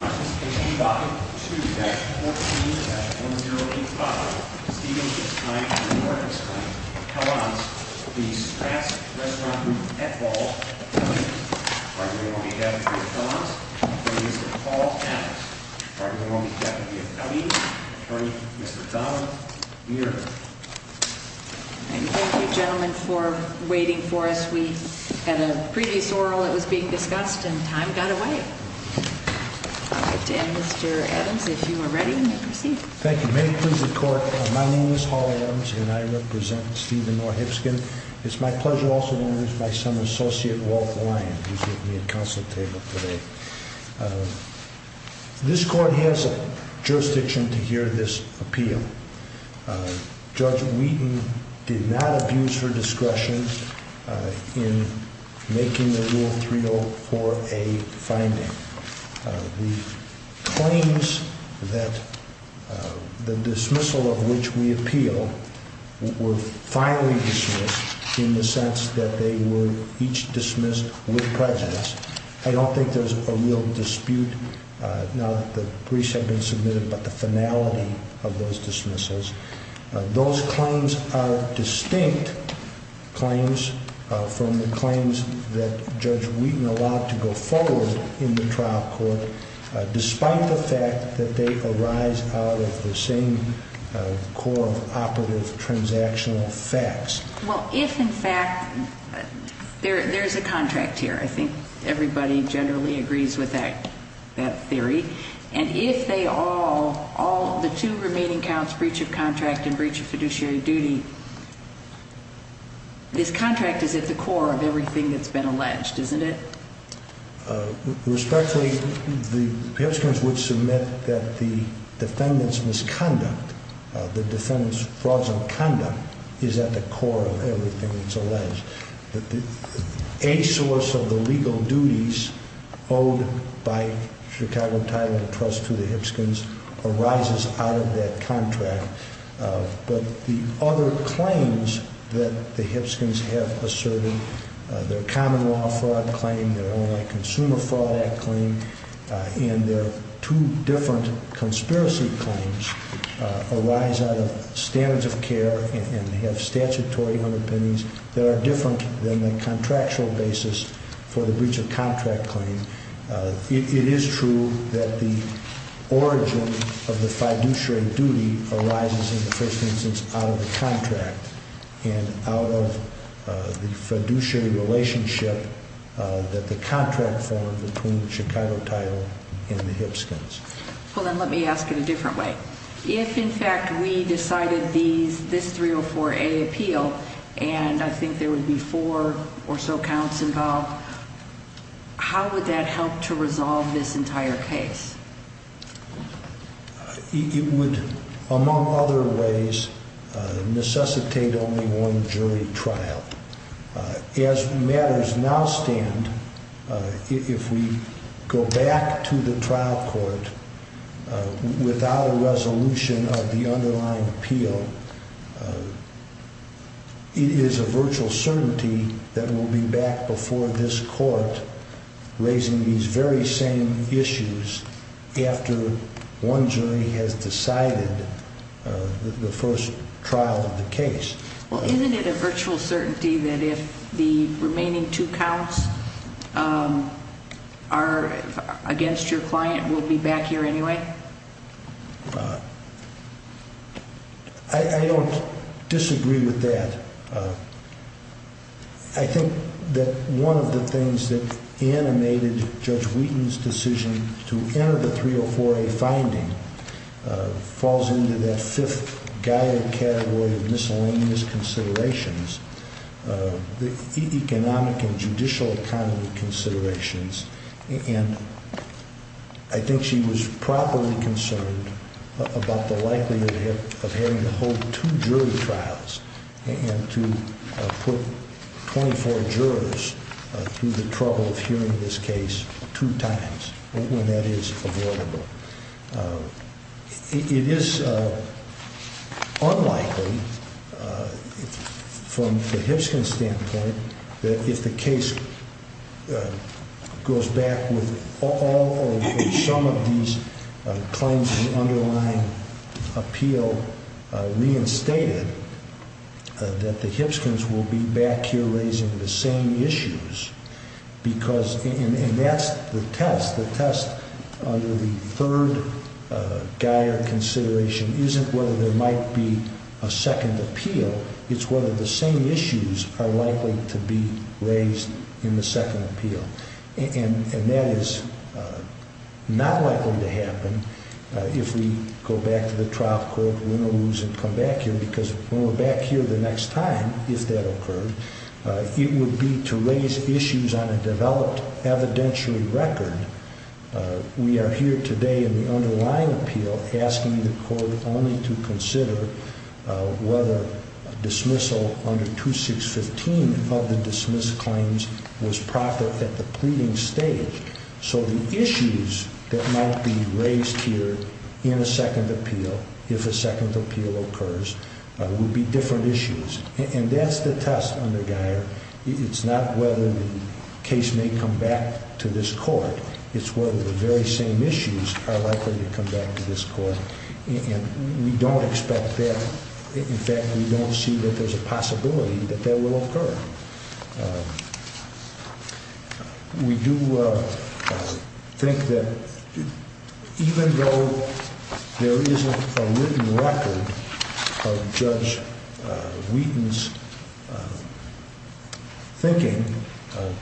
Participation in Document 2-14-1085, Stephen Hipskind v. Nordenstein, Helland's v. Strat's Restaurant Group at Ball, LA. Part of the Royal Deputy of Helland's, Mr. Paul Adams. Part of the Royal Deputy of Howdy, Mr. Donald Muir. Thank you gentlemen for waiting for us. We had a previous oral that was being discussed and time got away. Mr. Adams, if you are ready, you may proceed. Thank you. May it please the Court, my name is Paul Adams and I represent Stephen Nordenstein. It's my pleasure also to introduce my son, Associate Walt Lyon, who's giving me a counsel table today. This Court has a jurisdiction to hear this appeal. Judge Wheaton did not abuse her discretion in making the Rule 304A finding. The claims that the dismissal of which we appeal were finally dismissed in the sense that they were each dismissed with prejudice. I don't think there's a real dispute now that the briefs have been submitted about the finality of those dismissals. Those claims are distinct claims from the claims that Judge Wheaton allowed to go forward in the trial court, despite the fact that they arise out of the same core of operative transactional facts. Well, if in fact, there's a contract here. I think everybody generally agrees with that theory. And if they all, all the two remaining counts, breach of contract and breach of fiduciary duty, this contract is at the core of everything that's been alleged, isn't it? Respectfully, the participants would submit that the defendant's misconduct, the defendant's fraudulent conduct is at the core of everything that's alleged. A source of the legal duties owed by Chicago Title Trust to the Hipskins arises out of that contract. But the other claims that the Hipskins have asserted, their common law fraud claim, their consumer fraud act claim, and their two different conspiracy claims arise out of standards of care and have statutory underpinnings that are different than the contractual basis for the breach of contract claim. It is true that the origin of the fiduciary duty arises in the first instance out of the contract and out of the fiduciary relationship that the contract formed between Chicago Title and the Hipskins. Well, then let me ask it a different way. If, in fact, we decided this 304A appeal, and I think there would be four or so counts involved, how would that help to resolve this entire case? It would, among other ways, necessitate only one jury trial. As matters now stand, if we go back to the trial court without a resolution of the underlying appeal, it is a virtual certainty that we'll be back before this court raising these very same issues after one jury has decided the first trial of the case. Well, isn't it a virtual certainty that if the remaining two counts are against your client, we'll be back here anyway? I don't disagree with that. I think that one of the things that animated Judge Wheaton's decision to enter the 304A finding falls into that fifth guide category of miscellaneous considerations, the economic and judicial kind of considerations. And I think she was properly concerned about the likelihood of having to hold two jury trials and to put 24 jurors through the trouble of hearing this case two times when that is avoidable. It is unlikely, from the Hibskins standpoint, that if the case goes back with all or some of these claims of the underlying appeal reinstated, that the Hibskins will be back here raising the same issues. And that's the test. The test under the third guide or consideration isn't whether there might be a second appeal. It's whether the same issues are likely to be raised in the second appeal. And that is not likely to happen if we go back to the trial court, win or lose, and come back here. Because when we're back here the next time, if that occurs, it would be to raise issues on a developed evidentiary record. We are here today in the underlying appeal asking the court only to consider whether dismissal under 2615 of the dismissed claims was proper at the pleading stage. So the issues that might be raised here in a second appeal, if a second appeal occurs, would be different issues. And that's the test under the guide. It's not whether the case may come back to this court. It's whether the very same issues are likely to come back to this court. And we don't expect that. In fact, we don't see that there's a possibility that that will occur. We do think that even though there isn't a written record of Judge Wheaton's thinking,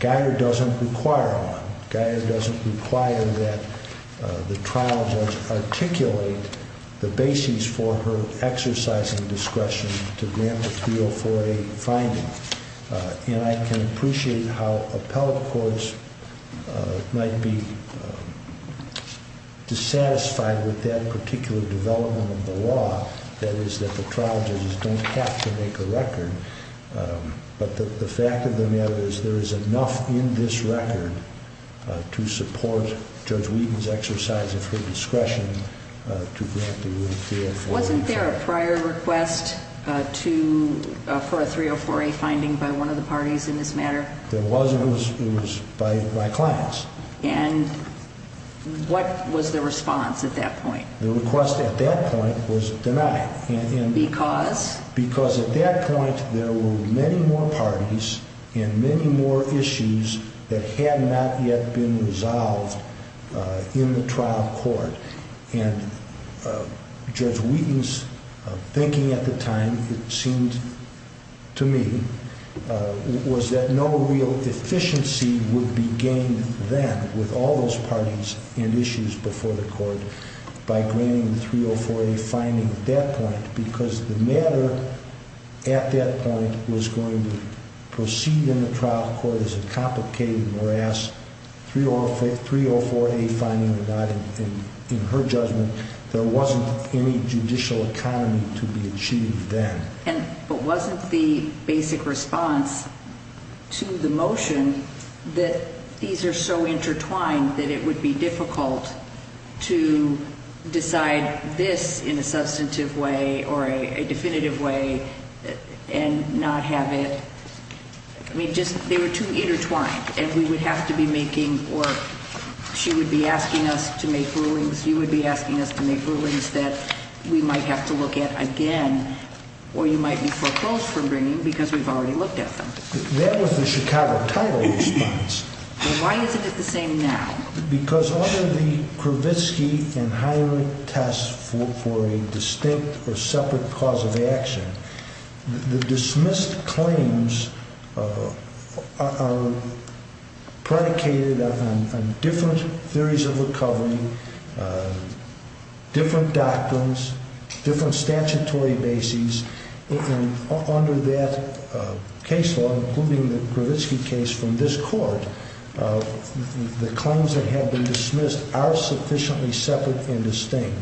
Guyer doesn't require one. And I can appreciate how appellate courts might be dissatisfied with that particular development of the law, that is that the trial judges don't have to make a record. But the fact of the matter is there is enough in this record to support Judge Wheaton's exercise of her discretion to grant the ruling here. Wasn't there a prior request for a 304A finding by one of the parties in this matter? There was. It was by my clients. And what was the response at that point? The request at that point was denied. Because? Because at that point there were many more parties and many more issues that had not yet been resolved in the trial court. And Judge Wheaton's thinking at the time, it seemed to me, was that no real efficiency would be gained then with all those parties and issues before the court by granting the 304A finding at that point. Because the matter at that point was going to proceed in the trial court as a complicated, morass 304A finding. And in her judgment, there wasn't any judicial economy to be achieved then. But wasn't the basic response to the motion that these are so intertwined that it would be difficult to decide this in a substantive way or a definitive way and not have it? I mean, just, they were too intertwined. And we would have to be making, or she would be asking us to make rulings, you would be asking us to make rulings that we might have to look at again, or you might be foreclosed from bringing because we've already looked at them. That was the Chicago title response. Why isn't it the same now? Because all of the Kravitzky and Hiram tests for a distinct or separate cause of action, the dismissed claims are predicated on different theories of recovery, different doctrines, different statutory bases. And under that case law, including the Kravitzky case from this court, the claims that have been dismissed are sufficiently separate and distinct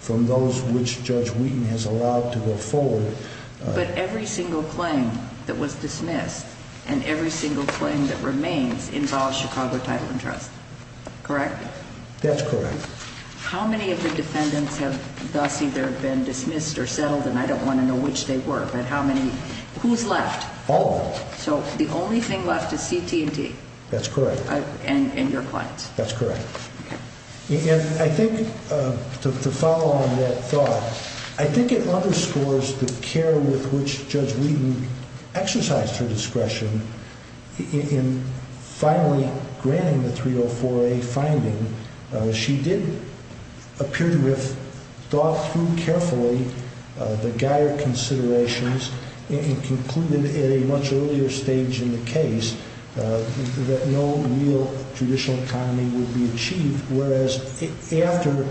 from those which Judge Wheaton has allowed to go forward. But every single claim that was dismissed and every single claim that remains involves Chicago title and trust, correct? That's correct. How many of the defendants have thus either been dismissed or settled, and I don't want to know which they were, but how many, who's left? All of them. So the only thing left is CT&T? That's correct. And your clients? That's correct. I think to follow on that thought, I think it underscores the care with which Judge Wheaton exercised her discretion in finally granting the 304A finding. She did appear to have thought through carefully the Geier considerations and concluded at a much earlier stage in the case that no real judicial economy would be achieved, whereas after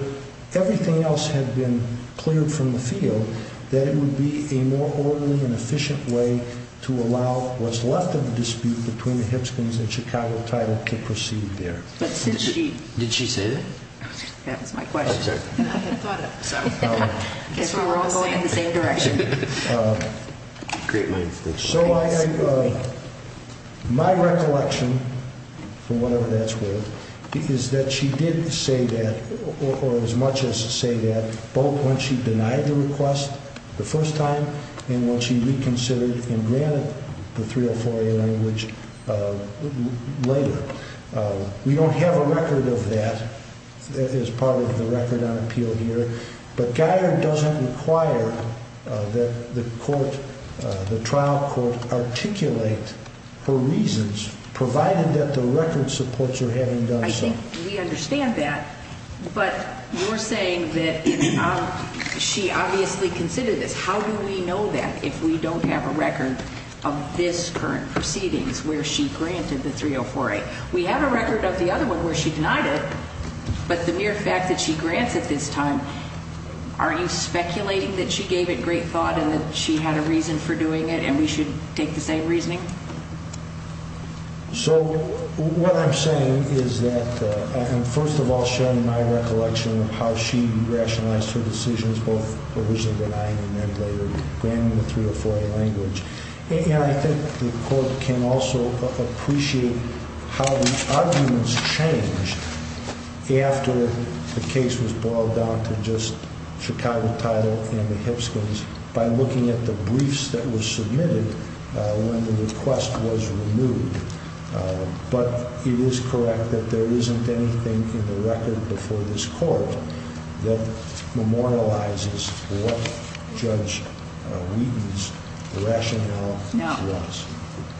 everything else had been cleared from the field, that it would be a more orderly and efficient way to allow what's left of the dispute between the Hibsons and Chicago title to proceed there. Did she say that? That was my question. I'm sorry. I had thought of it. In case we were all going in the same direction. Great minds think alike. My recollection, for whatever that's worth, is that she did say that, or as much as say that, both when she denied the request the first time and when she reconsidered and granted the 304A language later. We don't have a record of that as part of the record on appeal here, but Geier doesn't require that the trial court articulate her reasons, provided that the record supports her having done so. I think we understand that, but you're saying that she obviously considered this. How do we know that if we don't have a record of this current proceedings where she granted the 304A? We have a record of the other one where she denied it, but the mere fact that she grants it this time, are you speculating that she gave it great thought and that she had a reason for doing it and we should take the same reasoning? So what I'm saying is that I'm first of all sharing my recollection of how she rationalized her decisions, both originally denying and then later granting the 304A language. And I think the court can also appreciate how the arguments changed after the case was boiled down to just Chicago title and the Hipskins by looking at the briefs that were submitted when the request was removed. But it is correct that there isn't anything in the record before this court that memorializes what Judge Wheaton's rationale was.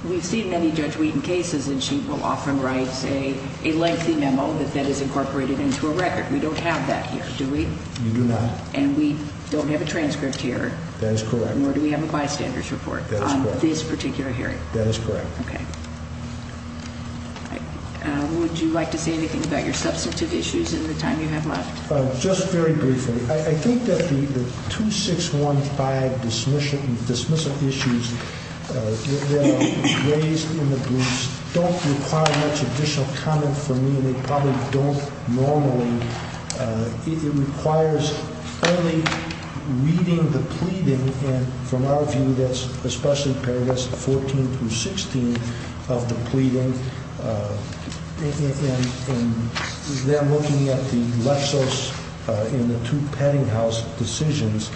We've seen many Judge Wheaton cases and she will often write a lengthy memo that that is incorporated into a record. We don't have that here, do we? You do not. And we don't have a transcript here. That is correct. Nor do we have a bystander's report on this particular hearing. That is correct. Okay. Would you like to say anything about your substantive issues in the time you have left? Just very briefly. I think that the 2615 dismissal issues that are raised in the briefs don't require much additional comment from me and they probably don't normally. It requires only reading the pleading and from our view, that's especially paragraph 14 through 16 of the pleading and then looking at the Lexos and the two Peddinghaus decisions.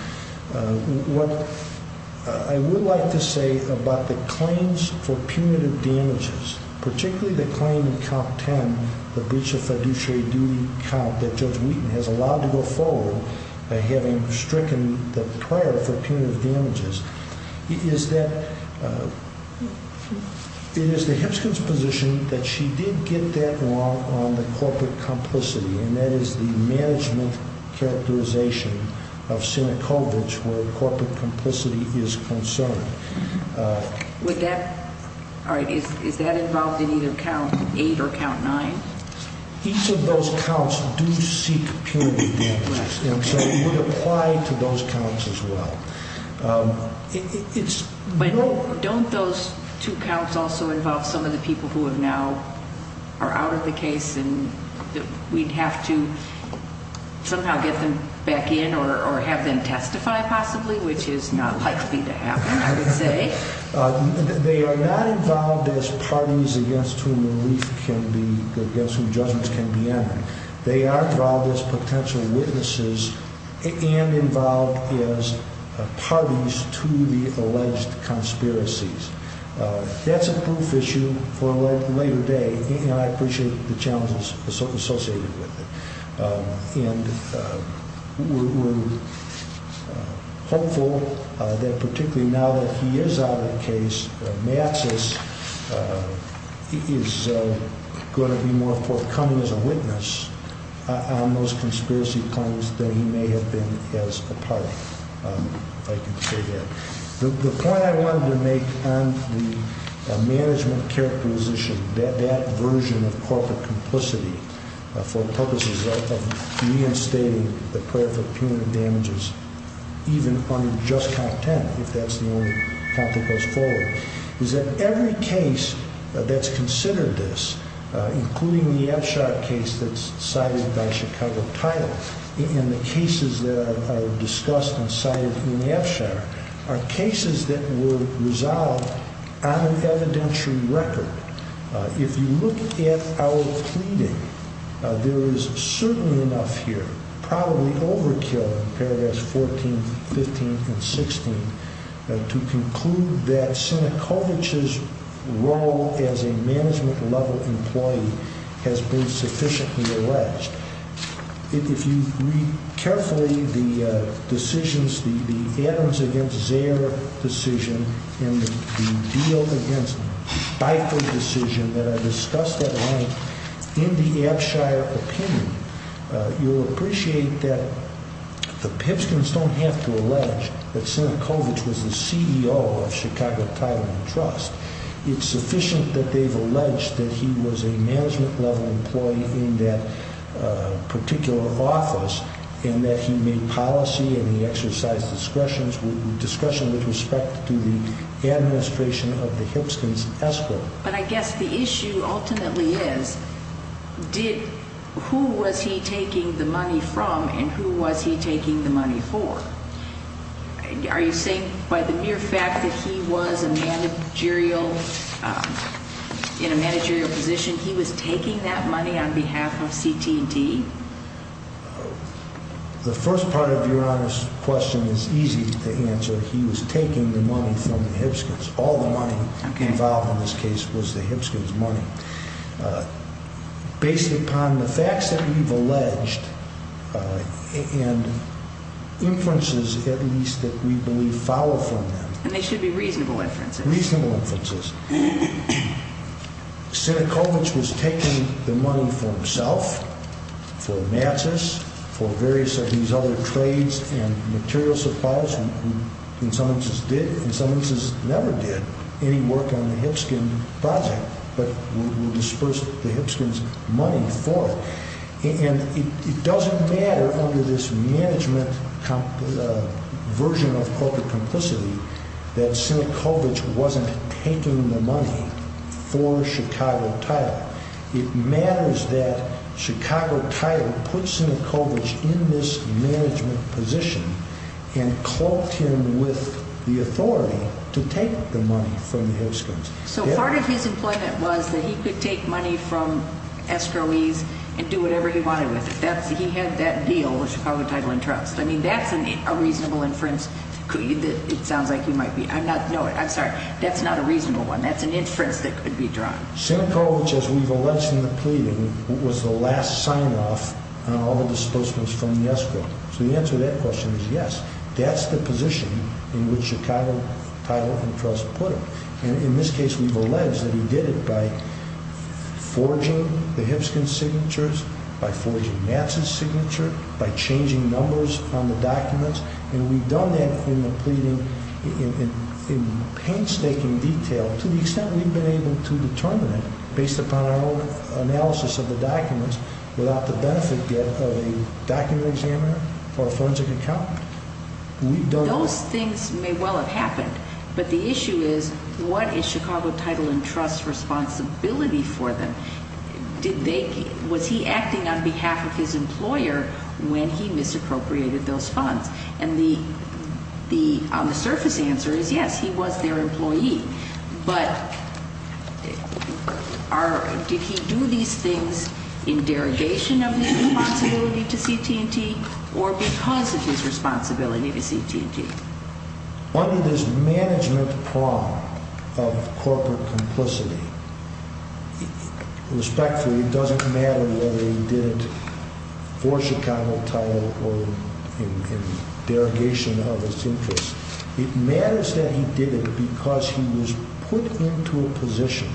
What I would like to say about the claims for punitive damages, particularly the claim in count 10, the breach of fiduciary duty count that Judge Wheaton has allowed to go forward by having stricken the prior for punitive damages, is that it is the Hipskin's position that she did get that wrong on the corporate complicity and that is the management characterization of Sinekovich where corporate complicity is concerned. Is that involved in either count 8 or count 9? Each of those counts do seek punitive damages and so it would apply to those counts as well. Don't those two counts also involve some of the people who are now out of the case and we'd have to somehow get them back in or have them testify possibly, which is not likely to happen, I would say. They are not involved as parties against whom relief can be, against whom judgments can be entered. They are involved as potential witnesses and involved as parties to the alleged conspiracies. That's a proof issue for a later day and I appreciate the challenges associated with it. And we're hopeful that particularly now that he is out of the case, Maxis is going to be more forthcoming as a witness on those conspiracy claims that he may have been as a party. The point I wanted to make on the management characterization, that version of corporate complicity for purposes of reinstating the prayer for punitive damages, even on just count 10, if that's the only count that goes forward, is that every case that's considered this, including the Epshar case that's cited by Chicago Title and the cases that are discussed and cited in Epshar, are cases that were resolved on an evidentiary record. If you look at our pleading, there is certainly enough here, probably overkill in paragraphs 14, 15, and 16, to conclude that Sienkiewicz's role as a management level employee has been sufficiently alleged. If you read carefully the decisions, the Adams against Zayer decision and the deal against Biford decision that I discussed at length in the Epshar opinion, you'll appreciate that the Pipskins don't have to allege that Sienkiewicz was the CEO of Chicago Title and Trust. It's sufficient that they've alleged that he was a management level employee in that particular office and that he made policy and he exercised discretion with respect to the administration of the Pipskins' escrow. But I guess the issue ultimately is, who was he taking the money from and who was he taking the money for? Are you saying by the mere fact that he was in a managerial position, he was taking that money on behalf of CT&T? The first part of Your Honor's question is easy to answer. He was taking the money from the Pipskins. All the money involved in this case was the Pipskins' money. Based upon the facts that we've alleged and inferences at least that we believe follow from them. And they should be reasonable inferences. Reasonable inferences. Sienkiewicz was taking the money for himself. For Matzos, for various of these other trades and materials suppliers who in some instances did, in some instances never did any work on the Pipskin project. But who disbursed the Pipskins' money for it. And it doesn't matter under this management version of corporate complicity that Sienkiewicz wasn't taking the money for Chicago Title. It matters that Chicago Title put Sienkiewicz in this management position and caught him with the authority to take the money from the Pipskins. So part of his employment was that he could take money from escrowees and do whatever he wanted with it. He had that deal with Chicago Title and Trust. I mean that's a reasonable inference. It sounds like you might be, I'm sorry, that's not a reasonable one. That's an inference that could be drawn. Sienkiewicz, as we've alleged in the pleading, was the last sign-off on all the disbursements from the escrow. So the answer to that question is yes. That's the position in which Chicago Title and Trust put him. And in this case we've alleged that he did it by forging the Pipskins' signatures, by forging Matzos' signature, by changing numbers on the documents. And we've done that in the pleading in painstaking detail to the extent we've been able to determine it based upon our own analysis of the documents without the benefit of a document examiner or a forensic accountant. Those things may well have happened, but the issue is what is Chicago Title and Trust's responsibility for them? Was he acting on behalf of his employer when he misappropriated those funds? And the on-the-surface answer is yes, he was their employee. But did he do these things in derogation of his responsibility to CT&T or because of his responsibility to CT&T? Under this management prong of corporate complicity, respectfully, it doesn't matter whether he did it for Chicago Title or in derogation of his interest. It matters that he did it because he was put into a position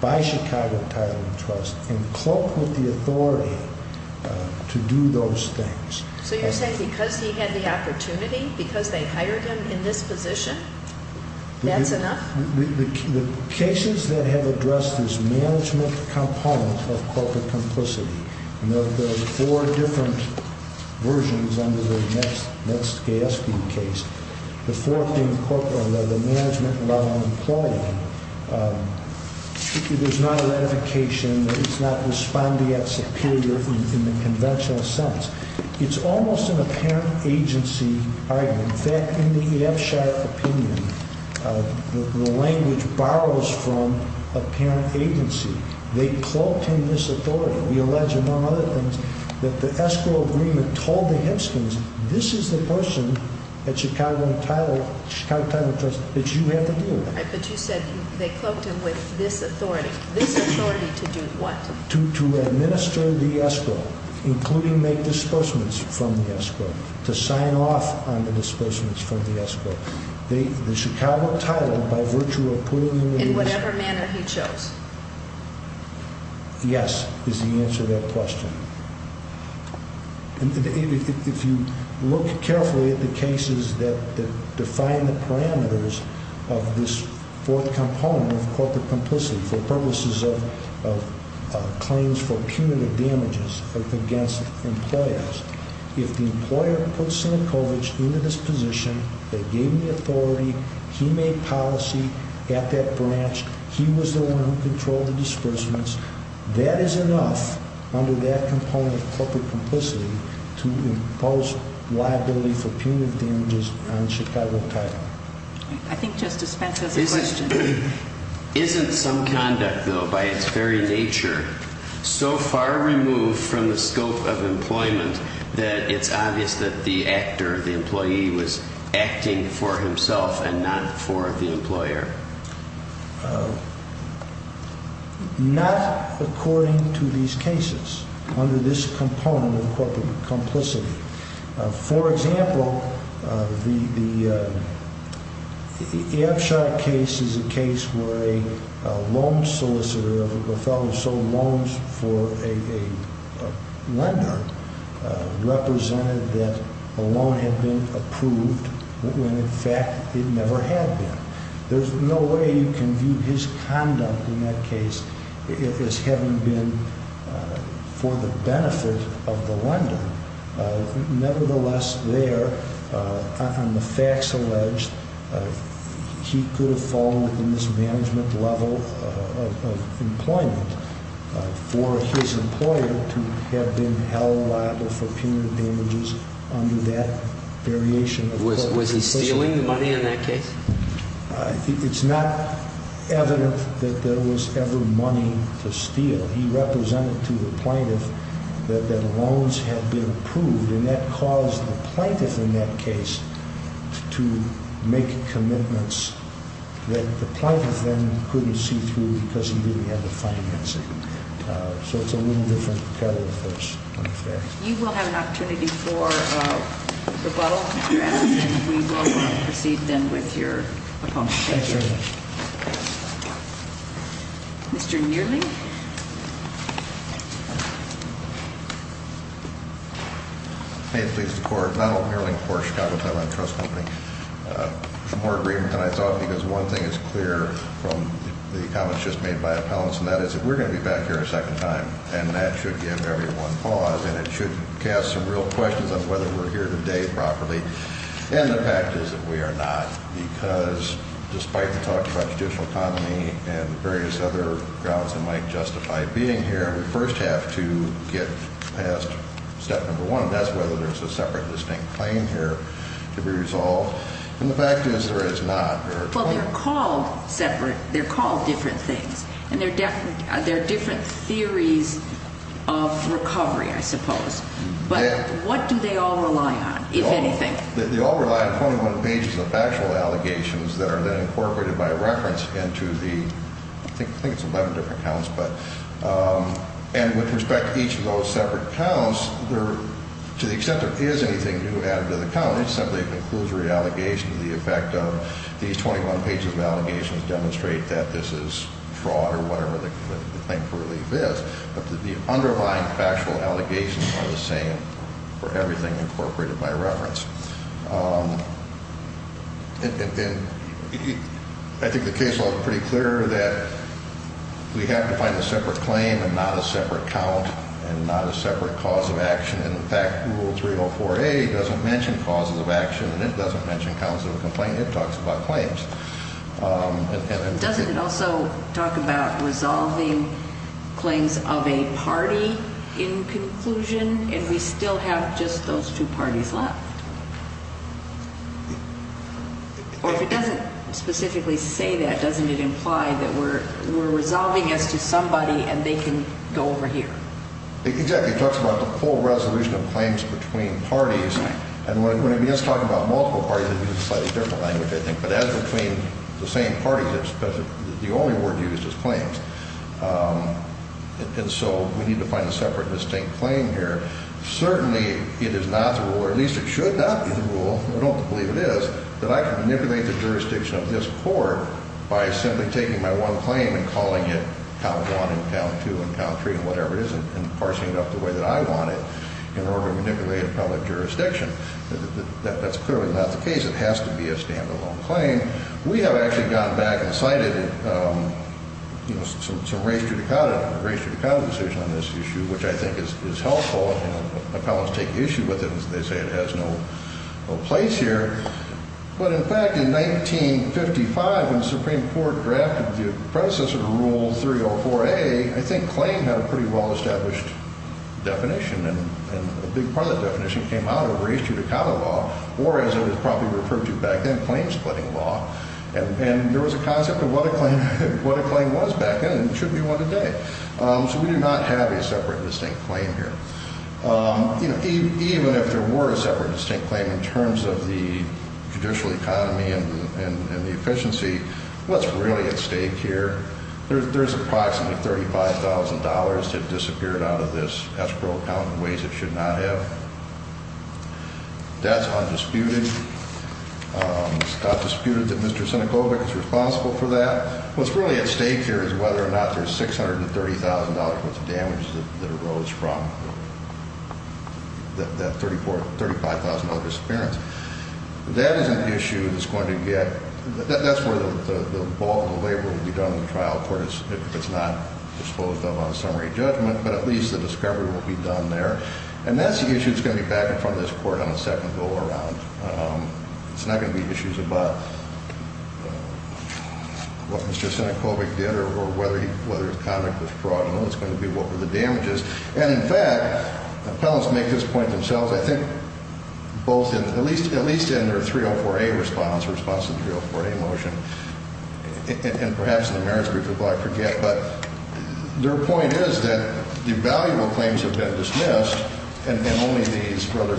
by Chicago Title and Trust and cloaked with the authority to do those things. So you're saying because he had the opportunity, because they hired him in this position, that's enough? The cases that have addressed this management component of corporate complicity, and there are four different versions under the Metz-Gay-Espy case. The fourth being the management-level employee. There's not a ratification that he's not responding as superior in the conventional sense. It's almost an apparent agency argument. In fact, in the EF-SHARP opinion, the language borrows from apparent agency. They cloaked him with this authority. We allege, among other things, that the escrow agreement told the Hipskins, this is the person at Chicago Title and Trust that you have to deal with. But you said they cloaked him with this authority. This authority to do what? To administer the escrow, including make disbursements from the escrow, to sign off on the disbursements from the escrow. The Chicago Title, by virtue of putting him in this position... In whatever manner he chose. Yes, is the answer to that question. If you look carefully at the cases that define the parameters of this fourth component of corporate complicity for purposes of claims for punitive damages against employers, if the employer puts Sienkiewicz into this position, they gave him the authority, he made policy at that branch, he was the one who controlled the disbursements, that is enough under that component of corporate complicity to impose liability for punitive damages on Chicago Title. I think Justice Spence has a question. Isn't some conduct, though, by its very nature, so far removed from the scope of employment that it's obvious that the actor, the employee, was acting for himself and not for the employer? Not according to these cases, under this component of corporate complicity. For example, the Abshok case is a case where a loan solicitor, a fellow who sold loans for a lender, represented that a loan had been approved when in fact it never had been. There's no way you can view his conduct in that case as having been for the benefit of the lender. Nevertheless, there, on the facts alleged, he could have fallen in this management level of employment for his employer to have been held liable for punitive damages under that variation of corporate complicity. Was he stealing the money in that case? I think it's not evident that there was ever money to steal. He represented to the plaintiff that the loans had been approved, and that caused the plaintiff in that case to make commitments that the plaintiff then couldn't see through because he didn't have the financing. So it's a little different kettle of fish, on the facts. You will have an opportunity for rebuttal, if you ask, and we will proceed then with your opponent. Thank you. Mr. Neerling? May it please the Court, Donald Neerling, Cork, Chicago-Taiwan Trust Company. Some more agreement than I thought because one thing is clear from the comments just made by appellants, and that is that we're going to be back here a second time, and that should give everyone pause, and it should cast some real questions on whether we're here today properly. And the fact is that we are not, because despite the talk about judicial autonomy and various other grounds that might justify being here, we first have to get past step number one, and that's whether there's a separate distinct claim here to be resolved. And the fact is there is not. Well, they're called separate. They're called different things, and there are different theories of recovery, I suppose. But what do they all rely on, if anything? They all rely on 21 pages of factual allegations that are then incorporated by reference into the, I think it's 11 different counts, but, and with respect to each of those separate counts, to the extent there is anything new added to the count, it's simply a conclusory allegation to the effect of these 21 pages of allegations demonstrate that this is fraud or whatever the claim for relief is, but the underlying factual allegations are the same for everything incorporated by reference. And I think the case law is pretty clear that we have to find a separate claim and not a separate count and not a separate cause of action. And in fact, Rule 304A doesn't mention causes of action, and it doesn't mention counts of a complaint. It talks about claims. Doesn't it also talk about resolving claims of a party in conclusion, and we still have just those two parties left? Or if it doesn't specifically say that, doesn't it imply that we're resolving as to somebody and they can go over here? Exactly. It talks about the full resolution of claims between parties, and when it begins talking about multiple parties, it uses a slightly different language, I think, but as between the same parties, the only word used is claims. And so we need to find a separate, distinct claim here. Certainly it is not the rule, or at least it should not be the rule, I don't believe it is, that I can manipulate the jurisdiction of this court by simply taking my one claim and calling it count one and count two and count three and whatever it is and parsing it up the way that I want it in order to manipulate a public jurisdiction. That's clearly not the case. It has to be a standalone claim. We have actually gone back and cited some res judicata, a res judicata decision on this issue, which I think is helpful. Appellants take issue with it. They say it has no place here. But in fact, in 1955, when the Supreme Court drafted the predecessor to Rule 304A, I think claim had a pretty well-established definition, and a big part of that definition came out of res judicata law, or as it was probably referred to back then, claim-splitting law. And there was a concept of what a claim was back then, and it should be one today. So we do not have a separate, distinct claim here. Even if there were a separate, distinct claim in terms of the judicial economy and the efficiency, what's really at stake here? There's approximately $35,000 that disappeared out of this escrow account in ways it should not have. That's undisputed. It's not disputed that Mr. Sinekovic is responsible for that. What's really at stake here is whether or not there's $630,000 worth of damage that arose from that $35,000 disappearance. That is an issue that's going to get – that's where the bulk of the labor will be done in the trial court, if it's not disposed of on a summary judgment, but at least the discovery will be done there. And that's the issue that's going to be back in front of this court on the second go-around. It's not going to be issues about what Mr. Sinekovic did or whether his conduct was fraudulent. It's going to be what were the damages. And, in fact, appellants make this point themselves, I think, both in – at least in their 304A response, response to the 304A motion, and perhaps in the merits brief as well, I forget. But their point is that the valuable claims have been dismissed and only these rather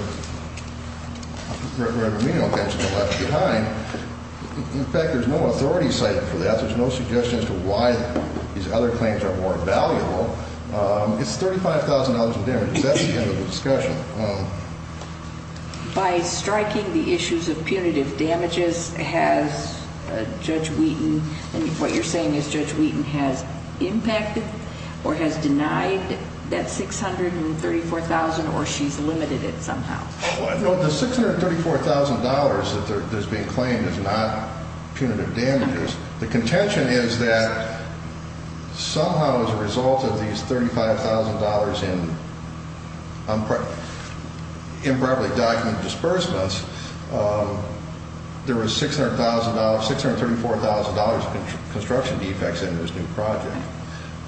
remedial claims have been left behind. In fact, there's no authority cited for that. There's no suggestion as to why these other claims are more valuable. It's $35,000 of damages. That's the end of the discussion. By striking the issues of punitive damages, has Judge Wheaton – what you're saying is Judge Wheaton has impacted or has denied that $634,000 or she's limited it somehow? The $634,000 that's being claimed is not punitive damages. The contention is that somehow as a result of these $35,000 in improperly documented disbursements, there was $634,000 of construction defects in this new project.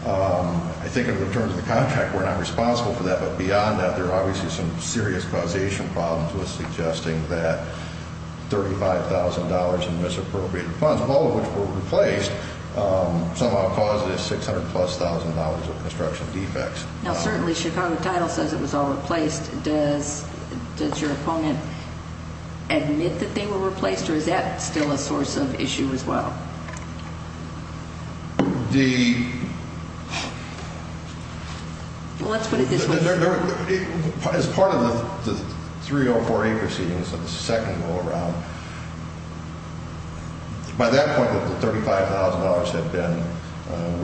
I think in terms of the contract, we're not responsible for that. But beyond that, there are obviously some serious causation problems with suggesting that $35,000 in misappropriated funds, all of which were replaced, somehow caused this $600,000 plus of construction defects. Now, certainly Chicago Title says it was all replaced. Does your opponent admit that they were replaced or is that still a source of issue as well? The – Well, let's put it this way. As part of the 304A proceedings of the second go-around, by that point, the $35,000 had been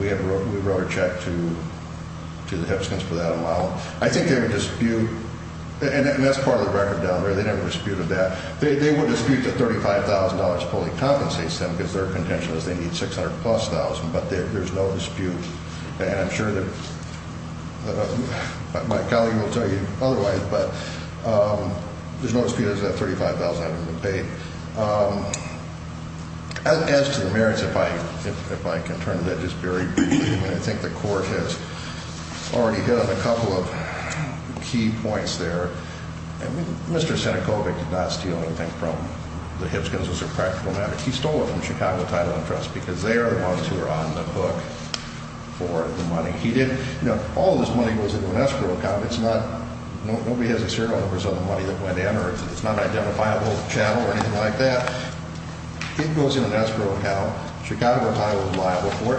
– we wrote a check to the Hipskins for that amount. I think they would dispute – and that's part of the record down there. They never disputed that. They would dispute that $35,000 fully compensates them because their contention is they need $600,000 plus, but there's no dispute. And I'm sure that my colleague will tell you otherwise, but there's no dispute that $35,000 hasn't been paid. As to the merits, if I can turn to that just very briefly, I think the Court has already hit on a couple of key points there. I mean, Mr. Sinekovic did not steal anything from the Hipskins as a practical matter. He stole it from Chicago Title and Trust because they are the ones who are on the hook for the money. He didn't – you know, all of this money goes into an escrow account. It's not – nobody has a serial number of the money that went in or it's not an identifiable channel or anything like that. It goes in an escrow account. Chicago Title is liable for it.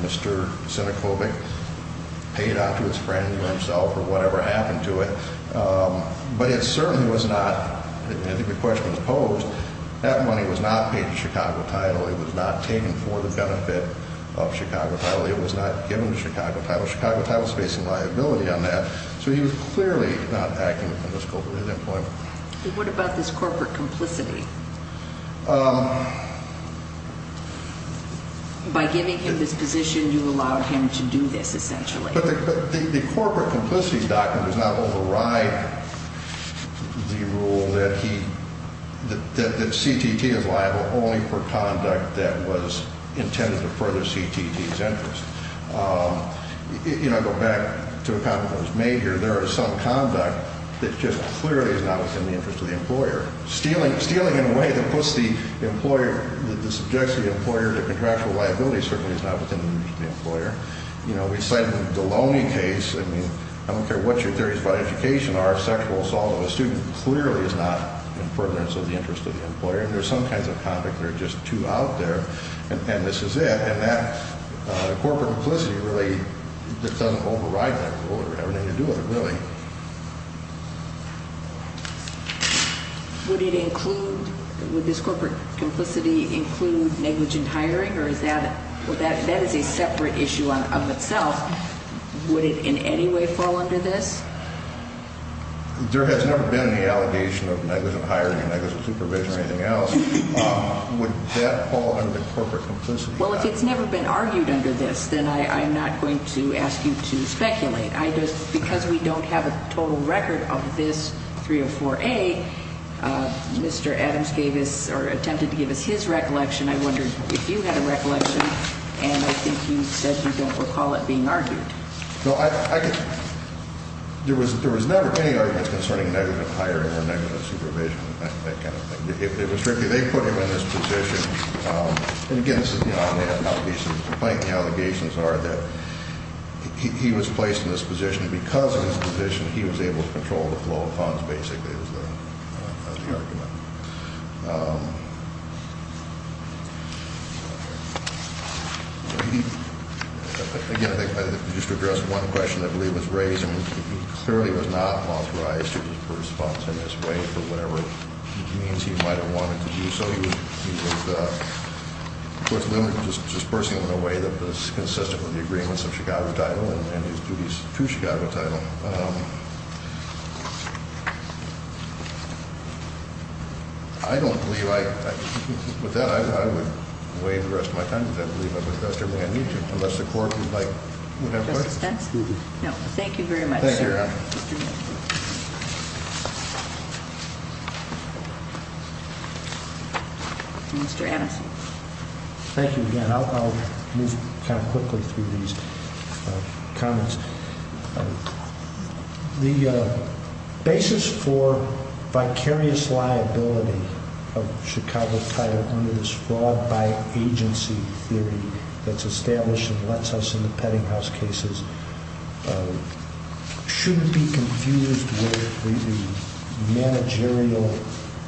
Mr. Sinekovic paid onto his friend or himself or whatever happened to it. But it certainly was not – I think the question was posed. That money was not paid to Chicago Title. It was not taken for the benefit of Chicago Title. It was not given to Chicago Title. Chicago Title is facing liability on that. So he was clearly not acting on this corporate employment. What about this corporate complicity? By giving him this position, you allowed him to do this essentially. But the corporate complicity document does not override the rule that he – that CTT is liable only for conduct that was intended to further CTT's interest. You know, I go back to a comment that was made here. There is some conduct that just clearly is not within the interest of the employer. Stealing in a way that puts the employer – that subjects the employer to contractual liability certainly is not within the interest of the employer. You know, we cited the Deloney case. I mean, I don't care what your theories about education are of sexual assault, but a student clearly is not in furtherance of the interest of the employer. And there's some kinds of conduct that are just too out there, and this is it. And that corporate complicity really doesn't override that rule or have anything to do with it, really. Would it include – would this corporate complicity include negligent hiring, or is that – that is a separate issue of itself. Would it in any way fall under this? There has never been an allegation of negligent hiring or negligent supervision or anything else. Would that fall under the corporate complicity? Well, if it's never been argued under this, then I'm not going to ask you to speculate. I just – because we don't have a total record of this 304A, Mr. Adams gave us – or attempted to give us his recollection. I wondered if you had a recollection, and I think you said you don't recall it being argued. No, I – there was never any argument concerning negligent hiring or negligent supervision, that kind of thing. It was strictly – they put him in this position. And, again, this is – there may not be some complaint. The allegations are that he was placed in this position, and because of his position, he was able to control the flow of funds, basically, is the argument. Again, I think just to address one question I believe was raised, I mean, he clearly was not authorized to disburse funds in this way for whatever means he might have wanted to do so. He was, of course, limited to disbursing them in a way that was consistent with the agreements of Chicago title and his duties to Chicago title. I don't believe I – with that, I would waive the rest of my time, because I believe I've addressed everything I need to, unless the court would like – would have questions. No, thank you very much, sir. Thank you. Mr. Anderson. Thank you again. I'll move kind of quickly through these comments. The basis for vicarious liability of Chicago title under this fraud by agency theory that's established and lets us in the Peddinghaus cases shouldn't be confused with the managerial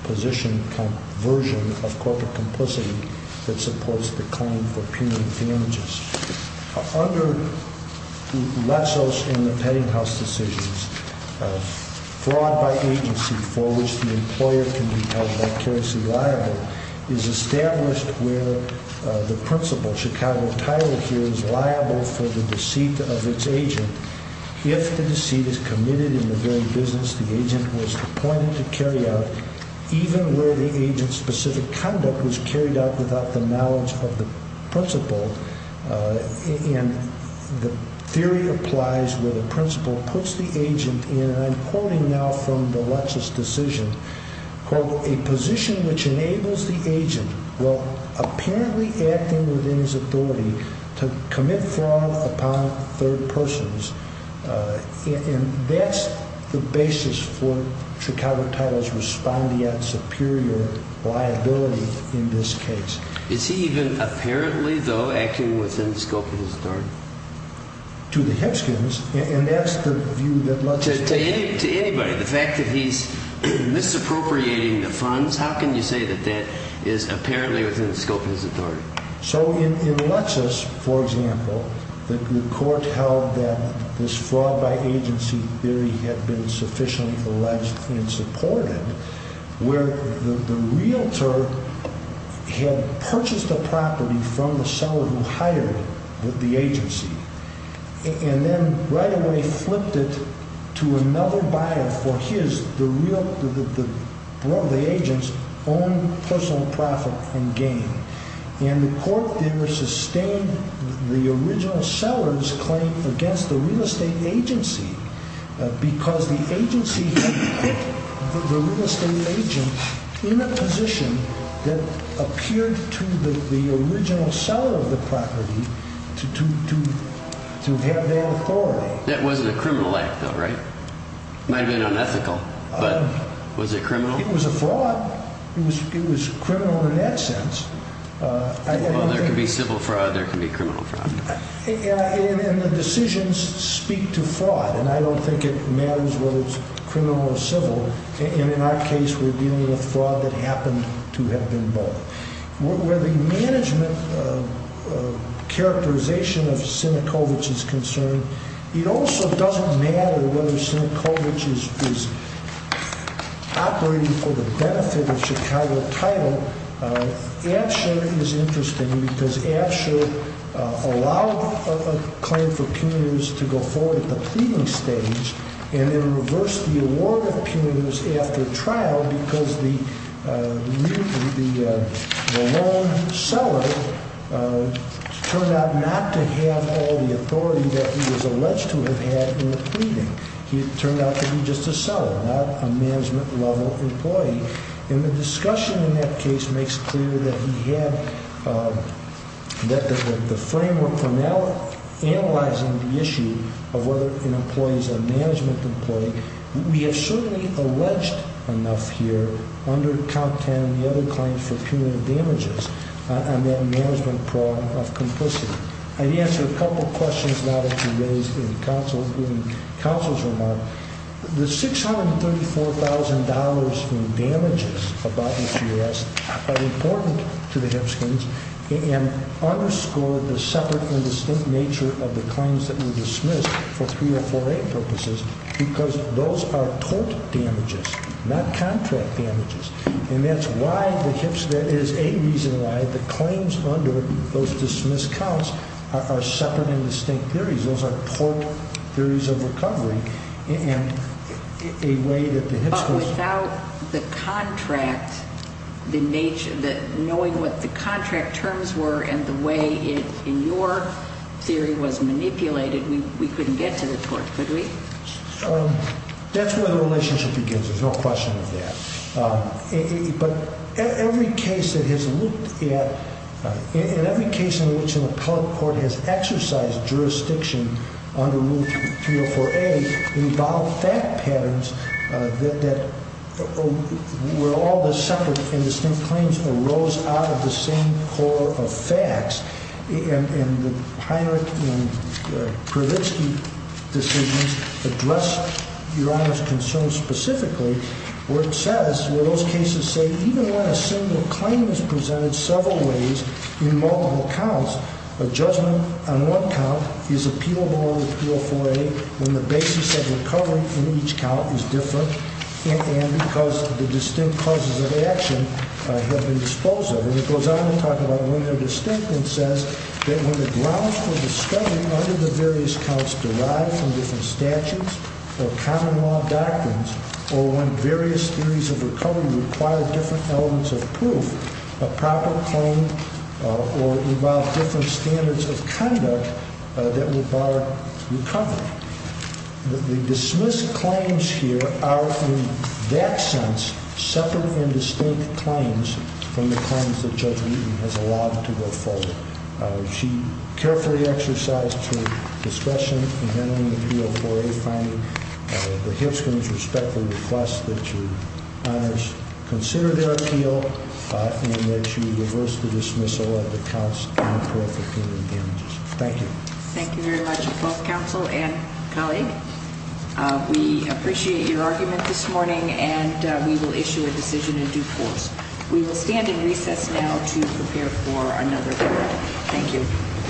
position kind of version of corporate complicity that supports the claim for punitive damages. Under less so in the Peddinghaus decisions, fraud by agency for which the employer can be held vicariously liable is established where the principal, Chicago title here, is liable for the deceit of its agent. If the deceit is committed in the very business the agent was appointed to carry out, even where the agent's specific conduct was carried out without the knowledge of the principal, and the theory applies where the principal puts the agent in, and I'm quoting now from the Lutz's decision, quote, a position which enables the agent, while apparently acting within his authority, to commit fraud upon third persons, and that's the basis for Chicago title's responding at superior liability in this case. Is he even apparently, though, acting within the scope of his authority? To the Hipskins, and that's the view that Lutz has taken. To anybody, the fact that he's misappropriating the funds, how can you say that that is apparently within the scope of his authority? So in Lutz's, for example, the court held that this fraud by agency theory had been sufficiently alleged and supported where the realtor had purchased a property from the seller who hired the agency, and then right away flipped it to another buyer for the agent's own personal profit and gain. The court there sustained the original seller's claim against the real estate agency because the agency had put the real estate agent in a position that appeared to the original seller of the property to have their authority. That wasn't a criminal act, though, right? It might have been unethical, but was it criminal? It was a fraud. It was criminal in that sense. Well, there can be civil fraud. There can be criminal fraud. And the decisions speak to fraud, and I don't think it matters whether it's criminal or civil. And in our case, we're dealing with fraud that happened to have been both. Where the management characterization of Sinikovitch is concerned, it also doesn't matter whether Sinikovitch is operating for the benefit of Chicago title. Absher is interesting because Absher allowed a claim for punitives to go forward at the pleading stage and then reversed the award of punitives after trial because the loan seller turned out not to have all the authority that he was alleged to have had in the pleading. He turned out to be just a seller, not a management-level employee. And the discussion in that case makes clear that he had the framework for now analyzing the issue of whether an employee is a management employee. We have certainly alleged enough here under Count Tan and the other claims for punitive damages on that management problem of complicity. I'd answer a couple of questions now that have been raised in counsel's remarks. The $634,000 in damages about each arrest are important to the Hipskins and underscore the separate and distinct nature of the claims that were dismissed for 3048 purposes because those are tort damages, not contract damages. And that is a reason why the claims under those dismissed counts are separate and distinct theories. Those are tort theories of recovery. But without the contract, knowing what the contract terms were and the way it, in your theory, was manipulated, we couldn't get to the tort, could we? That's where the relationship begins. There's no question of that. But every case that has looked at, in every case in which an appellate court has exercised jurisdiction under Rule 304A involved fact patterns that were all the separate and distinct claims arose out of the same core of facts. And the Heinrich and Kravitzky decisions address Your Honor's concern specifically where it says, where those cases say even when a single claim is presented several ways in multiple counts, a judgment on one count is appealable under 304A when the basis of recovery in each count is different and because the distinct causes of action have been disposed of. And it goes on to talk about when they're distinct and says that when the grounds for discovery under the various counts derive from different statutes or common law doctrines or when various theories of recovery require different elements of proof, a proper claim or involve different standards of conduct that would bar recovery. The dismissed claims here are, in that sense, separate and distinct claims from the claims that Judge Newton has allowed to go forward. She carefully exercised her discretion in handling the 304A finding. The Hitchcombs respectfully request that Your Honors consider their appeal and that you reverse the dismissal of the counts and appellate damages. Thank you. Thank you very much, both counsel and colleague. We appreciate your argument this morning and we will issue a decision in due course. We will stand in recess now to prepare for another hearing. Thank you.